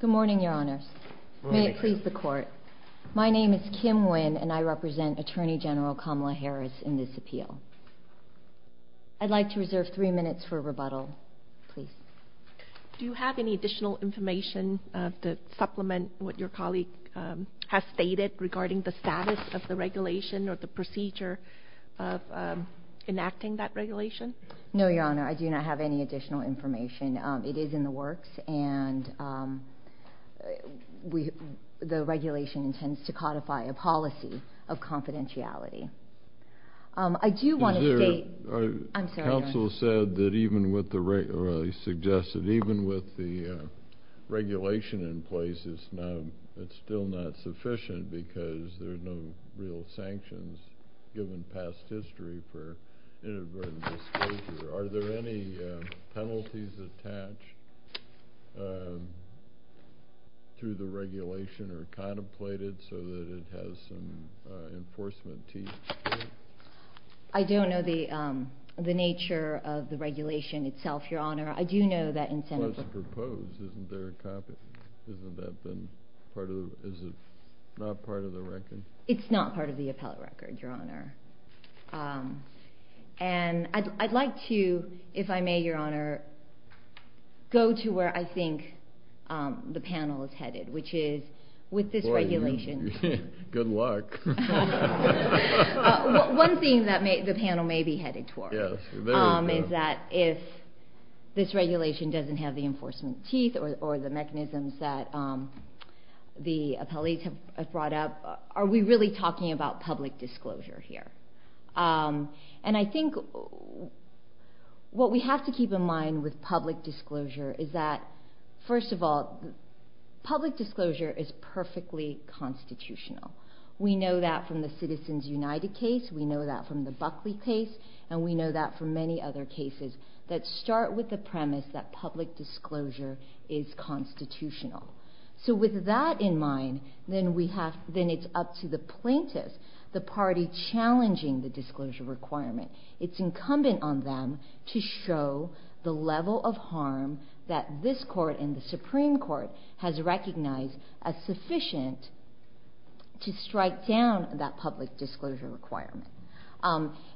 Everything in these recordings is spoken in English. Good morning, Your Honors. May it please the Court. My name is Kim Nguyen, and I represent Attorney General Kamala Harris in this appeal. I'd like to reserve three minutes for rebuttal. Please. Do you have any additional information to supplement what your colleague has stated regarding the status of the regulation or the procedure of enacting that regulation? No, Your Honor. I do not have any additional information. It is in the works, and the regulation intends to codify a policy of confidentiality. I do want to state— Is there— I'm sorry, Your Honor. Counsel said that even with the—or he suggested even with the regulation in place, it's still not sufficient because there's no real sanctions given past history for inadvertent disclosure. Are there any penalties attached to the regulation or contemplated so that it has some enforcement teeth to it? I don't know the nature of the regulation itself, Your Honor. I do know that in— It's not part of the appellate record, Your Honor. And I'd like to, if I may, Your Honor, go to where I think the panel is headed, which is with this regulation— Good luck. One thing that the panel may be headed toward is that if this regulation doesn't have the enforcement teeth or the mechanisms that the appellates have brought up, are we really talking about public disclosure here? And I think what we have to keep in mind with public disclosure is that, first of all, public disclosure is perfectly constitutional. We know that from the Citizens United case, we know that from the Buckley case, and we start with the premise that public disclosure is constitutional. So with that in mind, then we have—then it's up to the plaintiffs, the party challenging the disclosure requirement. It's incumbent on them to show the level of harm that this Court and the Supreme Court has recognized as sufficient to strike down that public disclosure requirement.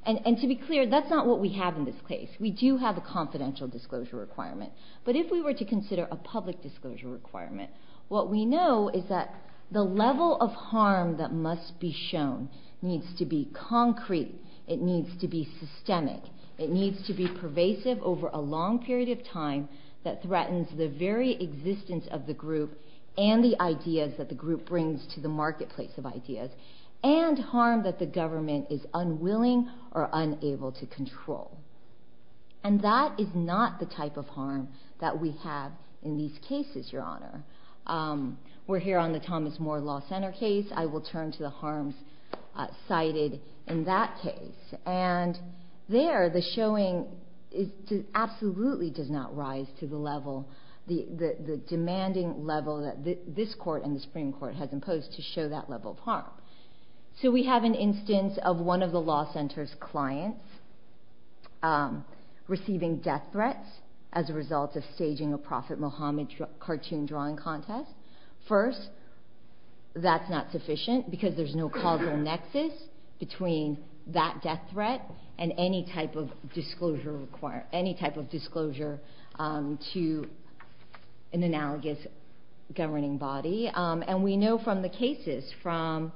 And to be clear, that's not what we have in this case. We do have a confidential disclosure requirement. But if we were to consider a public disclosure requirement, what we know is that the level of harm that must be shown needs to be concrete, it needs to be systemic, it needs to be pervasive over a long period of time that threatens the very existence of the group and the ideas that the group brings to the marketplace of ideas, and harm that the government is unwilling or unable to control. And that is not the type of harm that we have in these cases, Your Honor. We're here on the Thomas Moore Law Center case. I will turn to the harms cited in that case. And there, the showing absolutely does not rise to the level, the demanding level that this Court and the Supreme Court has imposed to show that level of harm. So we have an instance of one of the law center's clients receiving death threats as a result of staging a Prophet Muhammad cartoon drawing contest. First, that's not sufficient because there's no causal nexus between that death threat and any type of disclosure to an analogous governing body. And we know from the case from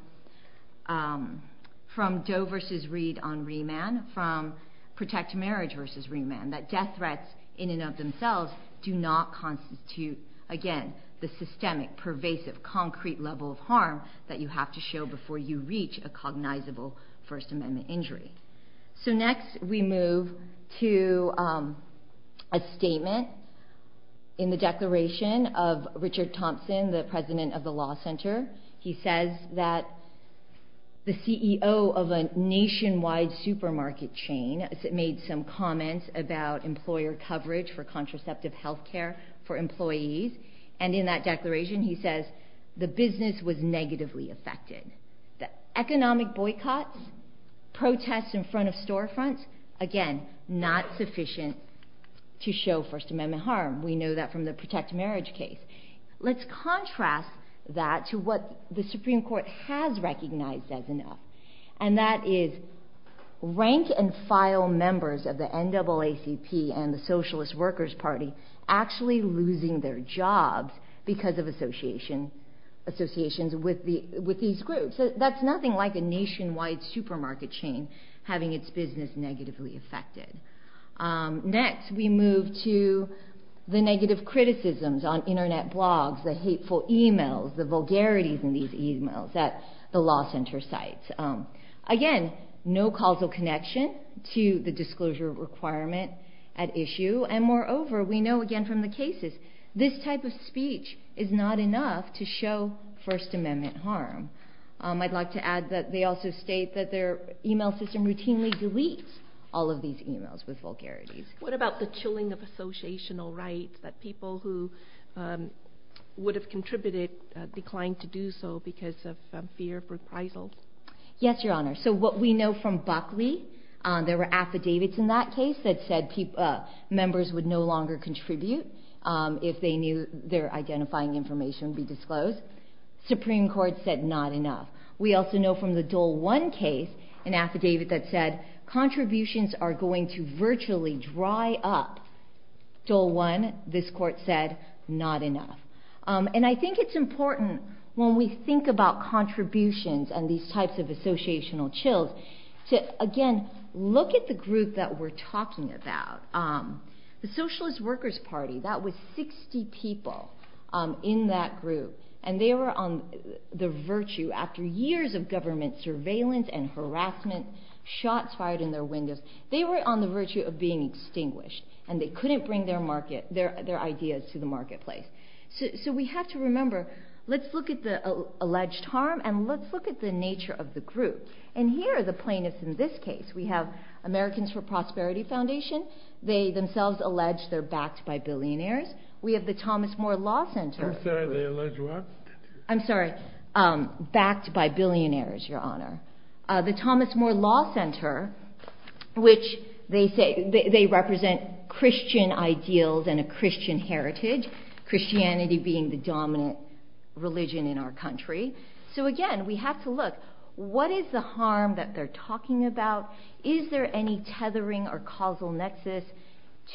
Doe versus Reed on remand, from Protect Marriage versus remand, that death threats in and of themselves do not constitute, again, the systemic, pervasive, concrete level of harm that you have to show before you reach a cognizable First Amendment injury. So next, we move to a statement in the declaration of Richard Thompson, the President of the Law Center. He says that the CEO of a nationwide supermarket chain made some comments about employer coverage for contraceptive health care for employees. And in that declaration, he says, the business was negatively affected. Economic boycotts, protests in front of storefronts, again, not sufficient to show First Amendment harm. We know that from the Protect Marriage case. Let's contrast that to what the Supreme Court has recognized as enough, and that is rank and file members of the NAACP and the Socialist Workers Party actually losing their jobs because of associations with these groups. That's nothing like a nationwide supermarket chain having its business negatively affected. Next, we move to the negative criticisms on Internet blogs, the hateful emails, the vulgarities in these emails at the Law Center sites. Again, no causal connection to the disclosure requirement at issue. And moreover, we know, again, from the cases, this type of speech is not enough to show First Amendment harm. I'd like to add that they also state that their email system routinely deletes all of these emails with vulgarities. What about the chilling of associational rights, that people who would have contributed declined to do so because of fear of reprisals? Yes, Your Honor. So what we know from Buckley, there were affidavits in that case that said members would no longer contribute if they knew their identifying information would be deleted. Affidavit that said contributions are going to virtually dry up. Dole One, this court said, not enough. And I think it's important when we think about contributions and these types of associational chills to, again, look at the group that we're talking about. The Socialist Workers Party, that was 60 people in that group. And they were on the virtue, after years of government surveillance and harassment, shots fired in their windows. They were on the virtue of being extinguished, and they couldn't bring their ideas to the marketplace. So we have to remember, let's look at the alleged harm, and let's look at the nature of the group. And here are the plaintiffs in this case. We have Americans for Prosperity Foundation. They themselves allege they're backed by billionaires. We have the Thomas Moore Law Center. I'm sorry, they allege what? I'm sorry. Backed by billionaires, Your Honor. The Thomas Moore Law Center, which they represent Christian ideals and a Christian heritage, Christianity being the dominant religion in our country. So again, we have to look, what is the harm that they're talking about? Is there any tethering or causal nexus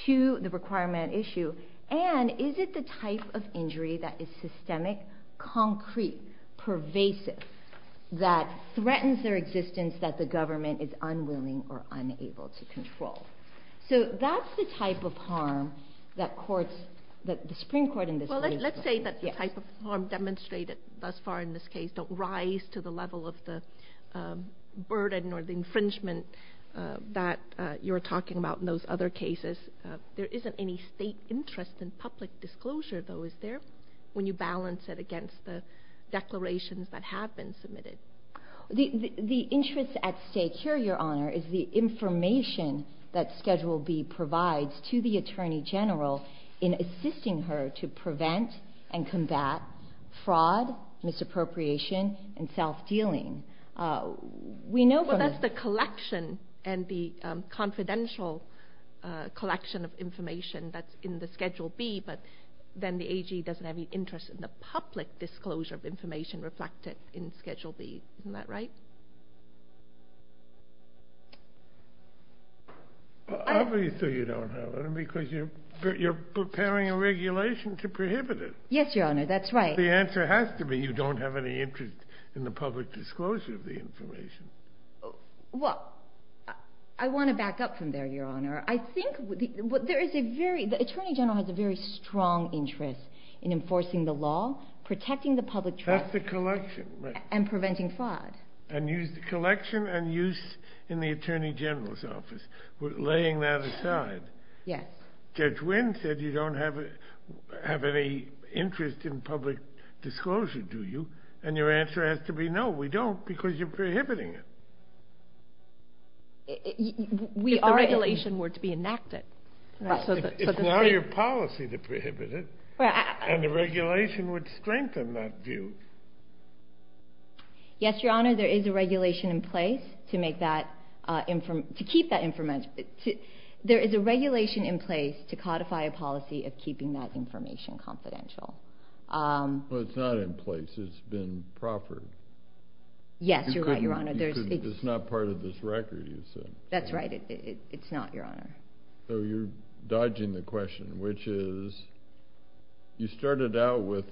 to the requirement issue? And is it the type of injury that is systemic, concrete, pervasive, that threatens their existence, that the government is unwilling or unable to control? So that's the type of harm that courts, that the Supreme Court in this case- Well, let's say that the type of harm demonstrated thus far in this case don't rise to the level of the burden or the infringement that you're talking about in those other cases. There is a type of harm that is systemic, concrete, pervasive, that threatens their existence. The interest at stake here, Your Honor, is the information that Schedule B provides to the Attorney General in assisting her to prevent and combat fraud, misappropriation, and self-dealing. We know from- Well, that's the collection and the confidential collection of information that's in the Schedule B, but then the AG doesn't have any interest in the public disclosure of information reflected in Schedule B. Isn't that right? Obviously, you don't have any, because you're preparing a regulation to prohibit it. Yes, Your Honor, that's right. The answer has to be you don't have any interest in the public disclosure of the information. Well, I want to back up from there, Your Honor. I think the Attorney General has a very strong interest in enforcing the law, protecting the public trust- That's the collection, right. And preventing fraud. And use the collection and use in the Attorney General's office, laying that aside. Yes. Judge Wynn said you don't have any interest in public disclosure, do you? And your answer has to be no, we don't, because you're prohibiting it. We are- If the regulation were to be enacted. Right. It's not your policy to prohibit it. And the regulation would strengthen that view. Yes, Your Honor, there is a regulation in place to make that- to keep that information. There is a regulation in place to codify a policy of keeping that information confidential. Well, it's not in place. It's been proffered. Yes, you're right, Your Honor. You could- it's not part of this record, you said. That's right. It's not, Your Honor. So you're dodging the question, which is, you started out with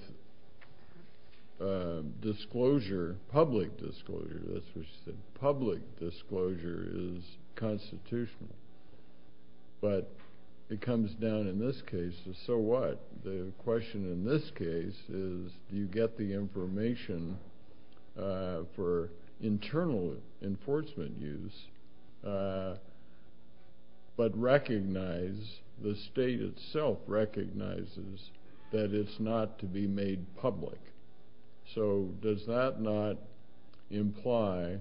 disclosure, public disclosure. That's what you said. Public disclosure is constitutional. But it comes down in this case to, so what? The question in this case is, do you get the information for internal enforcement use, but recognize- the state itself recognizes that it's not to be made public. So does that not imply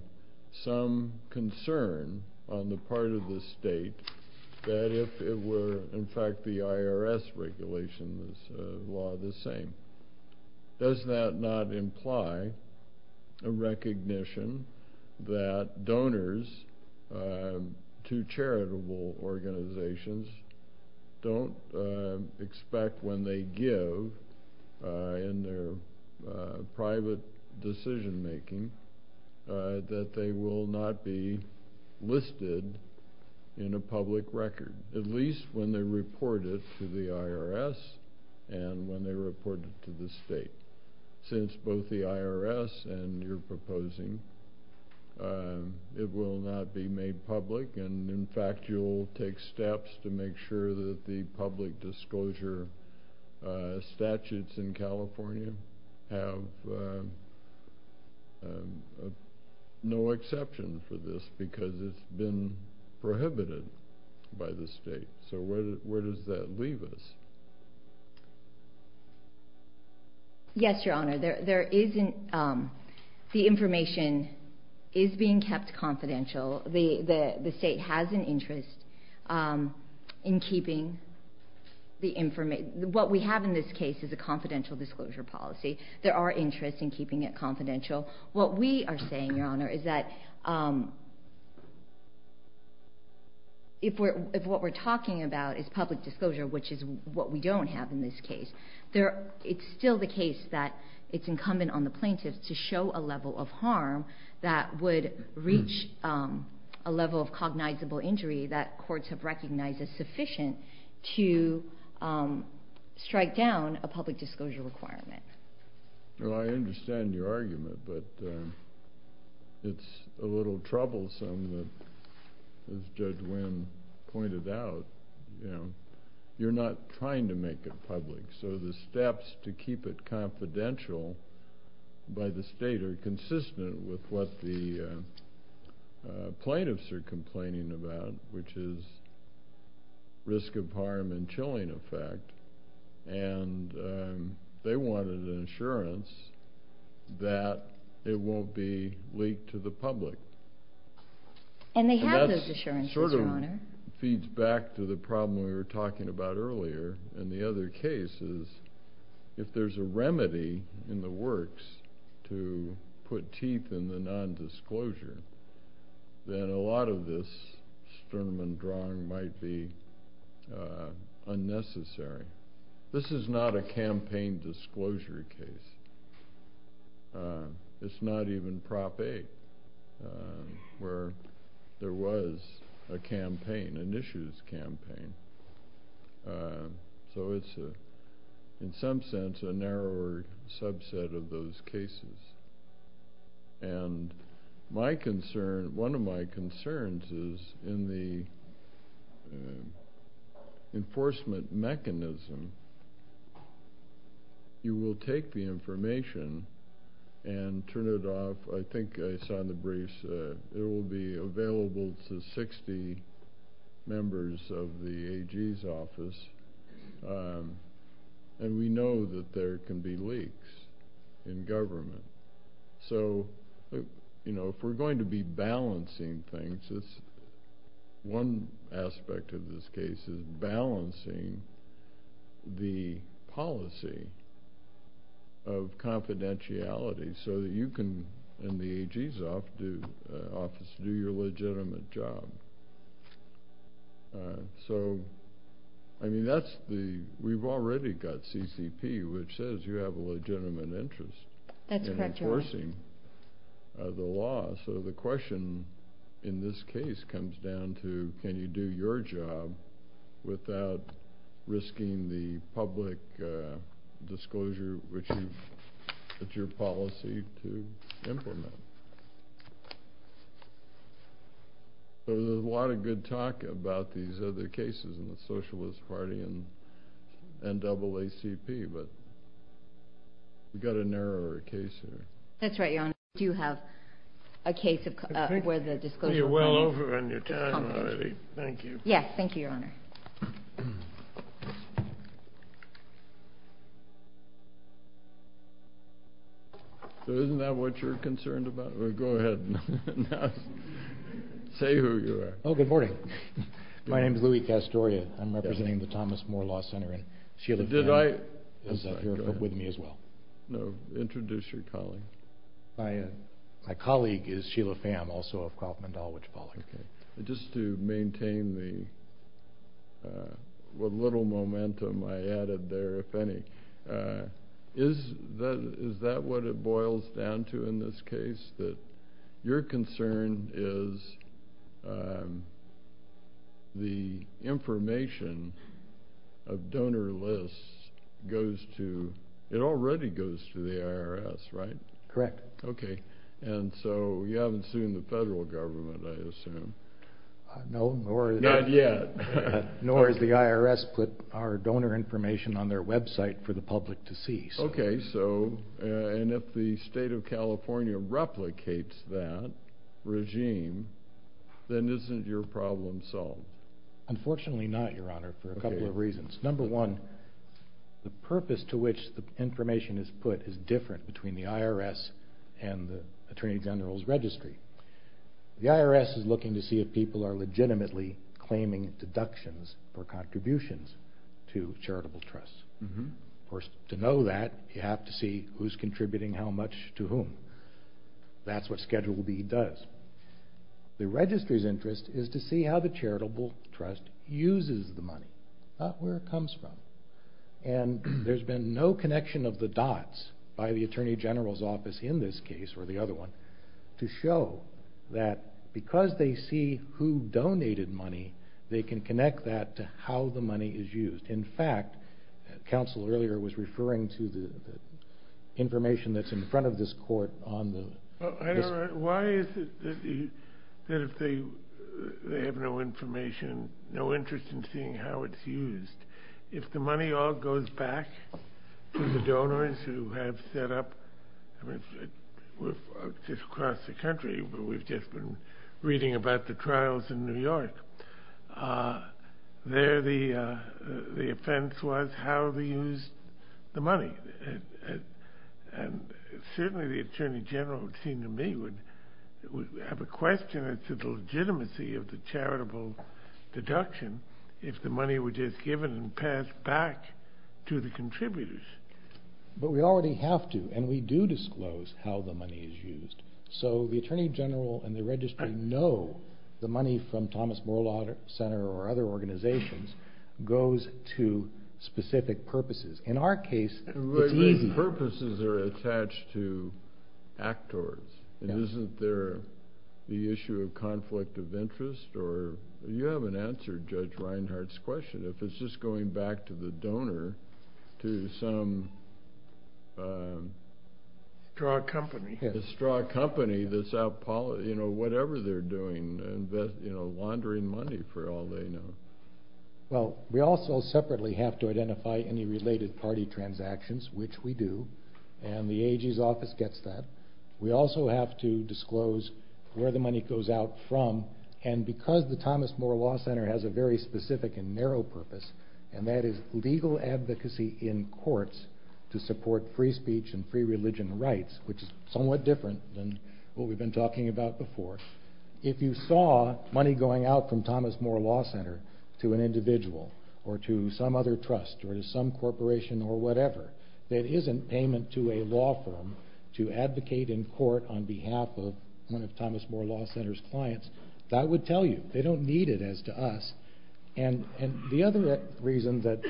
some concern on the part of the state that if it were, in fact, the IRS regulation, this law the same. Does that not imply a recognition that donors to charitable organizations don't expect when they give in their private decision-making that they will not be listed in a public record, at least when they report it to the IRS and when they report it to the state? Since both the IRS and you're proposing, it will not be made public, and in fact you'll take steps to make sure that the public disclosure statutes in California have no exception for this because it's been prohibited by the state. So where does that leave us? Yes, Your Honor. The information is being kept confidential. The state has an interest in keeping the information. What we have in this case is a confidential disclosure policy. There are interests in keeping it confidential. What we are saying, Your Honor, is that if what we're talking about is public disclosure, which is what we don't have in this case, it's still the case that it's incumbent on the plaintiff to show a level of harm that would reach a level of cognizable injury that courts have recognized as sufficient to strike down a public disclosure requirement. Well, I understand your argument, but it's a little troublesome that, as Judge Winn pointed out, you're not trying to make it public. So the steps to keep it confidential by the state are consistent with what the plaintiffs are complaining about, which is risk of harm and chilling effect, and they wanted an assurance that it won't be leaked to the public. And they have those assurances, Your Honor. And that sort of feeds back to the problem we were talking about earlier. And the other case is if there's a remedy in the works to put teeth in the nondisclosure, then a lot of this sternum and drawing might be unnecessary. This is not a campaign disclosure case. It's not even Prop 8, where there was a campaign, an issues campaign. So it's, in some sense, a narrower subset of those cases. And one of my concerns is in the enforcement mechanism, you will take the information and turn it off. I think I signed the briefs. There will be available to 60 members of the AG's office, and we know that there can be leaks in government. So if we're going to be balancing things, one aspect of this case is balancing the policy of confidentiality so that you can, and the AG's office, do your legitimate job. So, I mean, we've already got CCP, which says you have a legitimate interest in enforcing the law. So the question in this case comes down to, can you do your job without risking the public disclosure, which is your policy to implement? So there's a lot of good talk about these other cases in the Socialist Party and NAACP, but we've got a narrower case here. That's right, Your Honor. We do have a case where the disclosure... Well, you're well over on your time already. Thank you. Yes, thank you, Your Honor. So isn't that what you're concerned about? Go ahead and say who you are. Oh, good morning. My name is Louis Castoria. I'm representing the Thomas Moore Law Center. And Sheila Pham is here with me as well. No, introduce your colleague. My colleague is Sheila Pham, also of Kauffman Dahl, which I apologize for. Just to maintain the little momentum I added there, if any, is that what it boils down to in this case? That your concern is the information of donor lists goes to... it already goes to the IRS, right? Correct. Okay, and so you haven't sued the federal government, I assume. Not yet. Nor has the IRS put our donor information on their website for the public to see. Okay, and if the state of California replicates that regime, then isn't your problem solved? Unfortunately not, Your Honor, for a couple of reasons. Number one, the purpose to which the information is put is different between the IRS and the Attorney General's Registry. The IRS is looking to see if people are legitimately claiming deductions for contributions to charitable trusts. Of course, to know that, you have to see who's contributing how much to whom. That's what Schedule B does. The Registry's interest is to see how the charitable trust uses the money, not where it comes from. And there's been no connection of the dots by the Attorney General's office in this case, or the other one, to show that because they see who donated money, they can connect that to how the money is used. In fact, counsel earlier was referring to the information that's in front of this court on the... Why is it that if they have no information, no interest in seeing how it's used, if the money all goes back to the donors who have set up... I mean, we're just across the country, but we've just been reading about the trials in New York. There, the offense was how they used the money. And certainly the Attorney General, it would seem to me, would have a question as to the legitimacy of the charitable deduction if the money were just given and passed back to the contributors. But we already have to, and we do disclose how the money is used. So the Attorney General and the Registry know the money from Thomas Morelau Center or other organizations goes to specific purposes. In our case, it's easy. But these purposes are attached to actors. Isn't there the issue of conflict of interest? Or you haven't answered Judge Reinhart's question. If it's just going back to the donor, to some... Straw company. The straw company that's out polishing, you know, whatever they're doing, laundering money for all they know. Well, we also separately have to identify any related party transactions, which we do. And the AG's office gets that. We also have to disclose where the money goes out from. And because the Thomas Morelau Center has a very specific and narrow purpose, and that is legal advocacy in courts to support free speech and free religion rights, which is somewhat different than what we've been talking about before. If you saw money going out from Thomas Morelau Center to an individual or to some other trust or to some corporation or whatever, that isn't payment to a law firm to advocate in court on behalf of one of Thomas Morelau Center's clients, that would tell you. They don't need it as to us. And the other reason that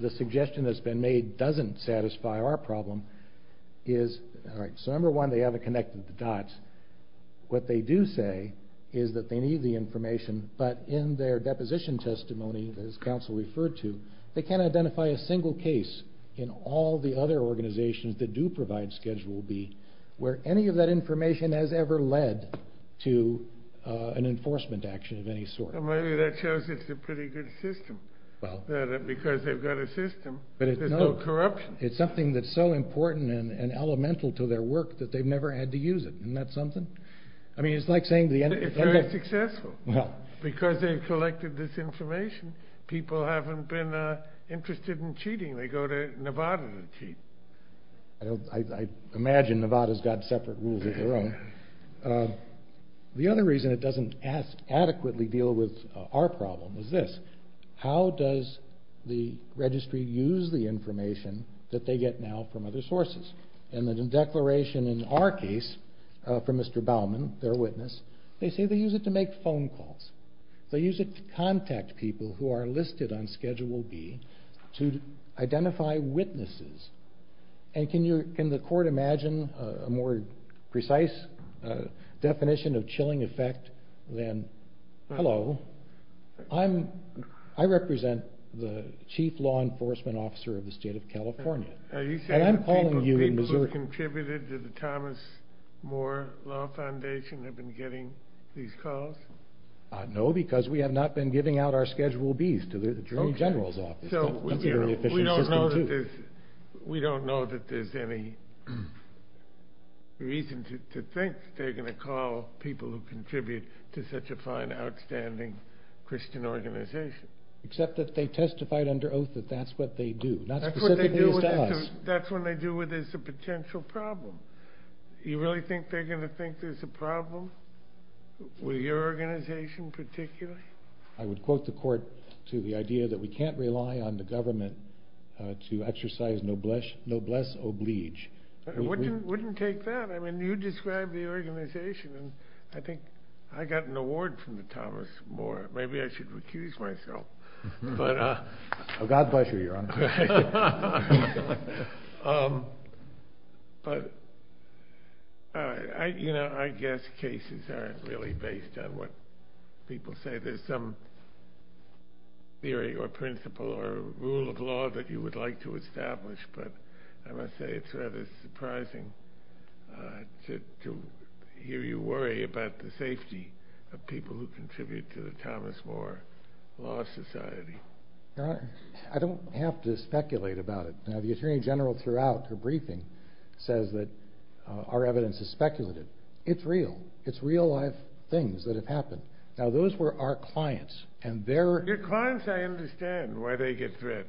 the suggestion that's been made doesn't satisfy our problem is, all right, so number one, they haven't connected the dots. What they do say is that they need the information, but in their deposition testimony, as counsel referred to, they can't identify a single case in all the other organizations that do provide Schedule B where any of that information has ever led to an enforcement action of any sort. Well, maybe that shows it's a pretty good system because they've got a system. There's no corruption. It's something that's so important and elemental to their work that they've never had to use it. Isn't that something? I mean, it's like saying the end of the day. It's very successful because they've collected this information. People haven't been interested in cheating. They go to Nevada to cheat. I imagine Nevada's got separate rules of their own. The other reason it doesn't adequately deal with our problem is this. How does the registry use the information that they get now from other sources? In the declaration in our case from Mr. Baumann, their witness, they say they use it to make phone calls. They use it to contact people who are listed on Schedule B to identify witnesses. And can the court imagine a more precise definition of chilling effect than, hello, I represent the chief law enforcement officer of the state of California, and I'm calling you in Missouri. Are you saying the people who have contributed to the Thomas Moore Law Foundation have been getting these calls? No, because we have not been giving out our Schedule Bs to the attorney general's office. That's a very efficient system, too. We don't know that there's any reason to think they're going to call people who contribute to such a fine, outstanding Christian organization. Except that they testified under oath that that's what they do. That's what they do with us. That's what they do when there's a potential problem. You really think they're going to think there's a problem with your organization particularly? I would quote the court to the idea that we can't rely on the government to exercise noblesse oblige. I wouldn't take that. I mean, you described the organization, and I think I got an award from the Thomas Moore. Maybe I should recuse myself. God bless you, Your Honor. I guess cases aren't really based on what people say. There's some theory or principle or rule of law that you would like to establish, but I must say it's rather surprising to hear you worry about the safety of people who contribute to the Thomas Moore Law Society. Your Honor, I don't have to speculate about it. Now, the Attorney General throughout her briefing says that our evidence is speculative. It's real. It's real-life things that have happened. Now, those were our clients, and they're... They're clients. I understand why they get threats.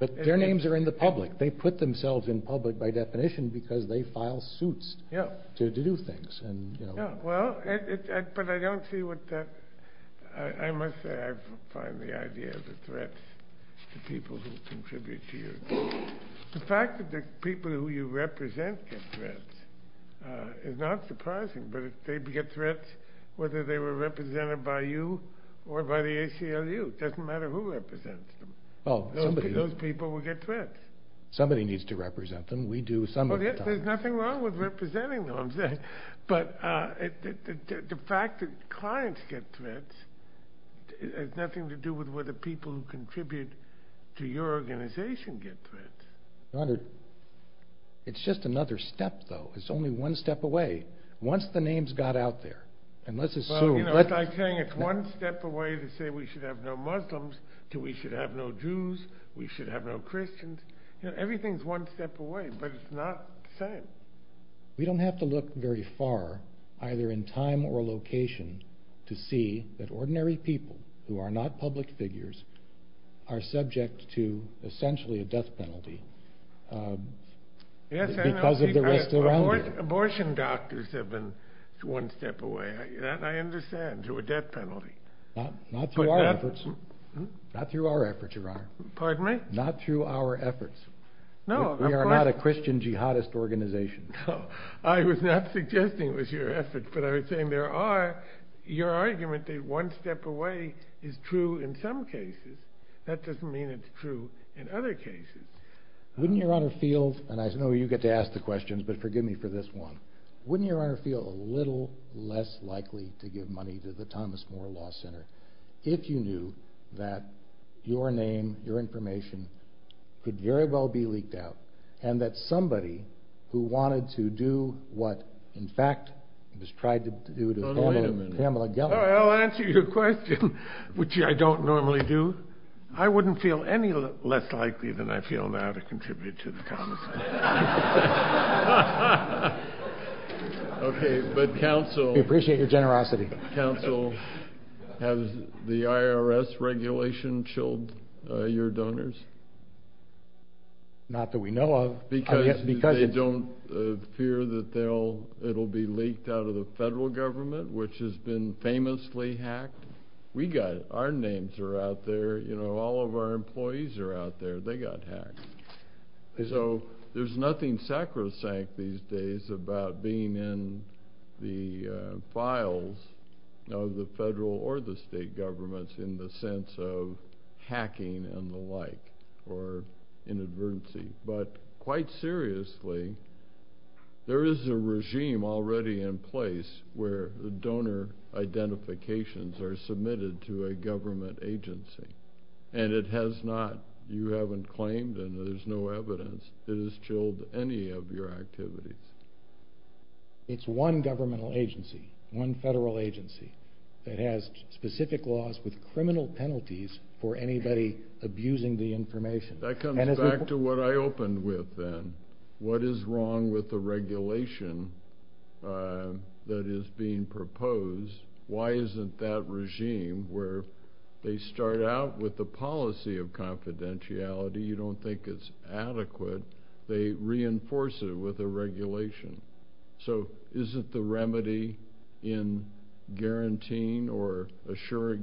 But their names are in the public. They put themselves in public by definition because they file suits to do things. Well, but I don't see what that... I must say I find the idea of the threats to people who contribute to you. The fact that the people who you represent get threats is not surprising, but if they get threats, whether they were represented by you or by the ACLU, it doesn't matter who represents them. Those people will get threats. Somebody needs to represent them. We do sometimes. There's nothing wrong with representing them, but the fact that clients get threats has nothing to do with whether people who contribute to your organization get threats. Your Honor, it's just another step, though. It's only one step away. Once the names got out there, and let's assume... Well, you know, it's like saying it's one step away to say we should have no Muslims to we should have no Jews, we should have no Christians. Everything's one step away, but it's not the same. We don't have to look very far, either in time or location, to see that ordinary people who are not public figures are subject to essentially a death penalty because of the rest around them. Abortion doctors have been one step away. That I understand, to a death penalty. Not through our efforts, Your Honor. Pardon me? Not through our efforts. We are not a Christian jihadist organization. I was not suggesting it was your effort, but I was saying there are... Your argument that one step away is true in some cases, that doesn't mean it's true in other cases. Wouldn't Your Honor feel, and I know you get to ask the questions, but forgive me for this one, wouldn't Your Honor feel a little less likely to give money to the Thomas More Law Center if you knew that your name, your information, could very well be leaked out and that somebody who wanted to do what, in fact, was tried to do to Pamela Gellar... I'll answer your question, which I don't normally do. I wouldn't feel any less likely than I feel now to contribute to the Thomas More Law Center. Okay, but counsel... We appreciate your generosity. Counsel, has the IRS regulation chilled your donors? Not that we know of. Because they don't fear that it will be leaked out of the federal government, which has been famously hacked. We got it. Our names are out there. All of our employees are out there. They got hacked. So there's nothing sacrosanct these days about being in the files of the federal or the state governments in the sense of hacking and the like or inadvertency. But quite seriously, there is a regime already in place where the donor identifications are submitted to a government agency, and it has not. You haven't claimed, and there's no evidence. It has chilled any of your activities. It's one governmental agency, one federal agency, that has specific laws with criminal penalties for anybody abusing the information. That comes back to what I opened with then. What is wrong with the regulation that is being proposed? Why isn't that regime where they start out with the policy of confidentiality, you don't think it's adequate, they reinforce it with a regulation? So isn't the remedy in guaranteeing or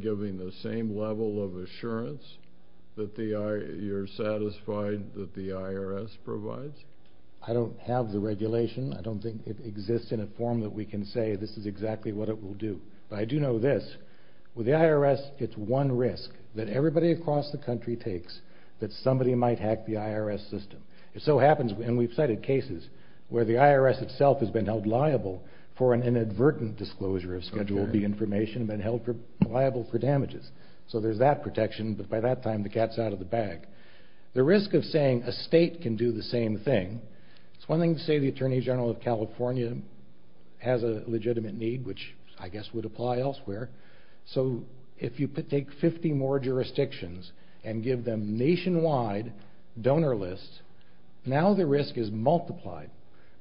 giving the same level of assurance that you're satisfied that the IRS provides? I don't have the regulation. I don't think it exists in a form that we can say this is exactly what it will do. But I do know this. With the IRS, it's one risk that everybody across the country takes that somebody might hack the IRS system. It so happens, and we've cited cases, where the IRS itself has been held liable for an inadvertent disclosure of Schedule B information and been held liable for damages. So there's that protection, but by that time the cat's out of the bag. The risk of saying a state can do the same thing, it's one thing to say the Attorney General of California has a legitimate need, which I guess would apply elsewhere. So if you take 50 more jurisdictions and give them nationwide donor lists, now the risk is multiplied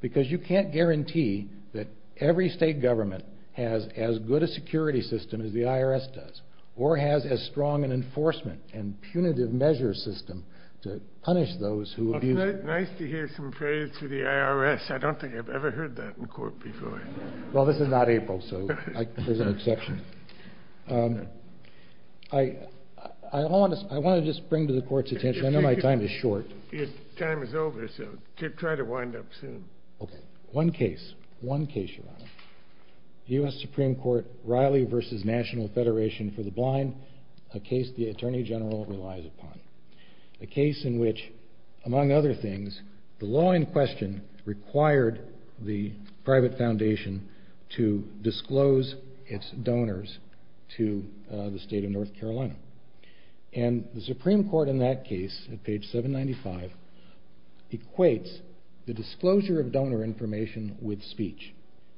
because you can't guarantee that every state government has as good a security system as the IRS does or has as strong an enforcement and punitive measure system to punish those who abuse it. It's nice to hear some praise for the IRS. I don't think I've ever heard that in court before. Well, this is not April, so there's an exception. I want to just bring to the Court's attention, I know my time is short. Your time is over, so try to wind up soon. One case, one case, Your Honor. U.S. Supreme Court Riley v. National Federation for the Blind, a case the Attorney General relies upon. A case in which, among other things, the law in question required the private foundation to disclose its donors to the state of North Carolina. And the Supreme Court in that case, at page 795, equates the disclosure of donor information with speech.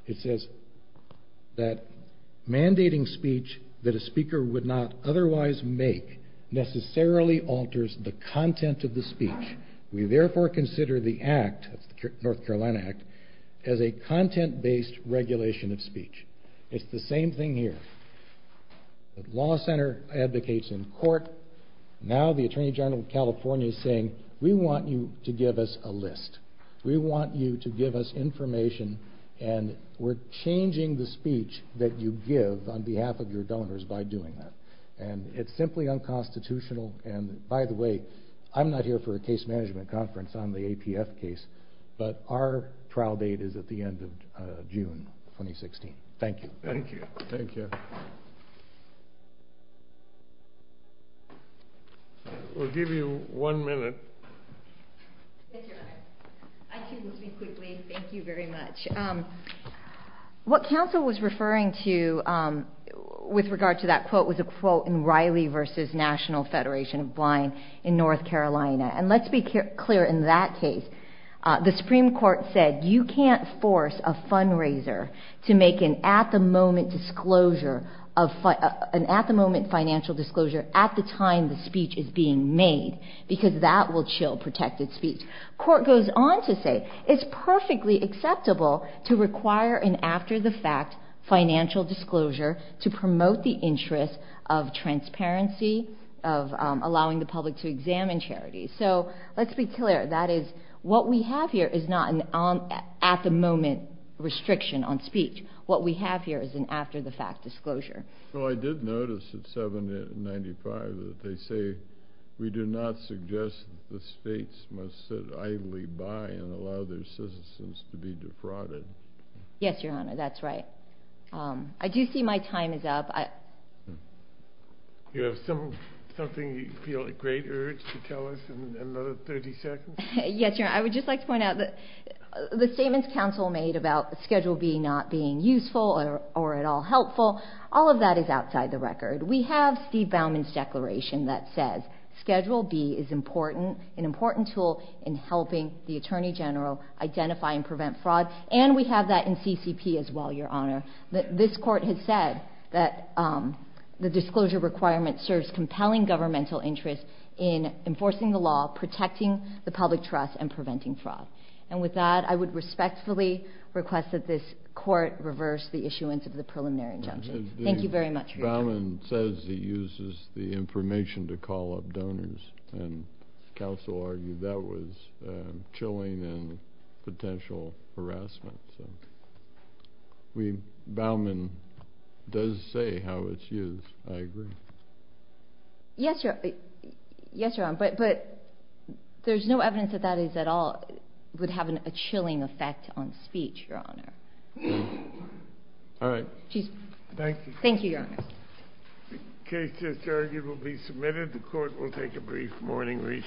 It says that mandating speech that a speaker would not otherwise make necessarily alters the content of the speech. We therefore consider the act, the North Carolina Act, as a content-based regulation of speech. It's the same thing here. The law center advocates in court. Now the Attorney General of California is saying, we want you to give us a list. We want you to give us information, and we're changing the speech that you give on behalf of your donors by doing that. And it's simply unconstitutional. And, by the way, I'm not here for a case management conference on the APF case, but our trial date is at the end of June 2016. Thank you. Thank you. Thank you. We'll give you one minute. Thank you, Your Honor. I can speak quickly. Thank you very much. What counsel was referring to with regard to that quote was a quote in Riley v. National Federation of Blind in North Carolina. And let's be clear in that case. The Supreme Court said, you can't force a fundraiser to make an at-the-moment financial disclosure at the time the speech is being made, because that will chill protected speech. Court goes on to say, it's perfectly acceptable to require an after-the-fact financial disclosure to promote the interest of transparency, of allowing the public to examine charities. So let's be clear. That is, what we have here is not an at-the-moment restriction on speech. What we have here is an after-the-fact disclosure. Well, I did notice at 795 that they say, we do not suggest the states must sit idly by and allow their citizens to be defrauded. Yes, Your Honor. That's right. I do see my time is up. Do you have something you feel a great urge to tell us in another 30 seconds? Yes, Your Honor. I would just like to point out that the statements counsel made about Schedule B not being useful or at all helpful, all of that is outside the record. We have Steve Bauman's declaration that says, Schedule B is an important tool in helping the Attorney General identify and prevent fraud, and we have that in CCP as well, Your Honor. This Court has said that the disclosure requirement serves compelling governmental interest in enforcing the law, protecting the public trust, and preventing fraud. And with that, I would respectfully request that this Court reverse the issuance of the preliminary injunction. Thank you very much for your time. Steve Bauman says he uses the information to call up donors, and counsel argued that was chilling and potential harassment. Bauman does say how it's used. I agree. Yes, Your Honor, but there's no evidence that that is at all would have a chilling effect on speech, Your Honor. All right. Thank you. Thank you, Your Honor. The case is adjourned. It will be submitted. The Court will take a brief morning recess.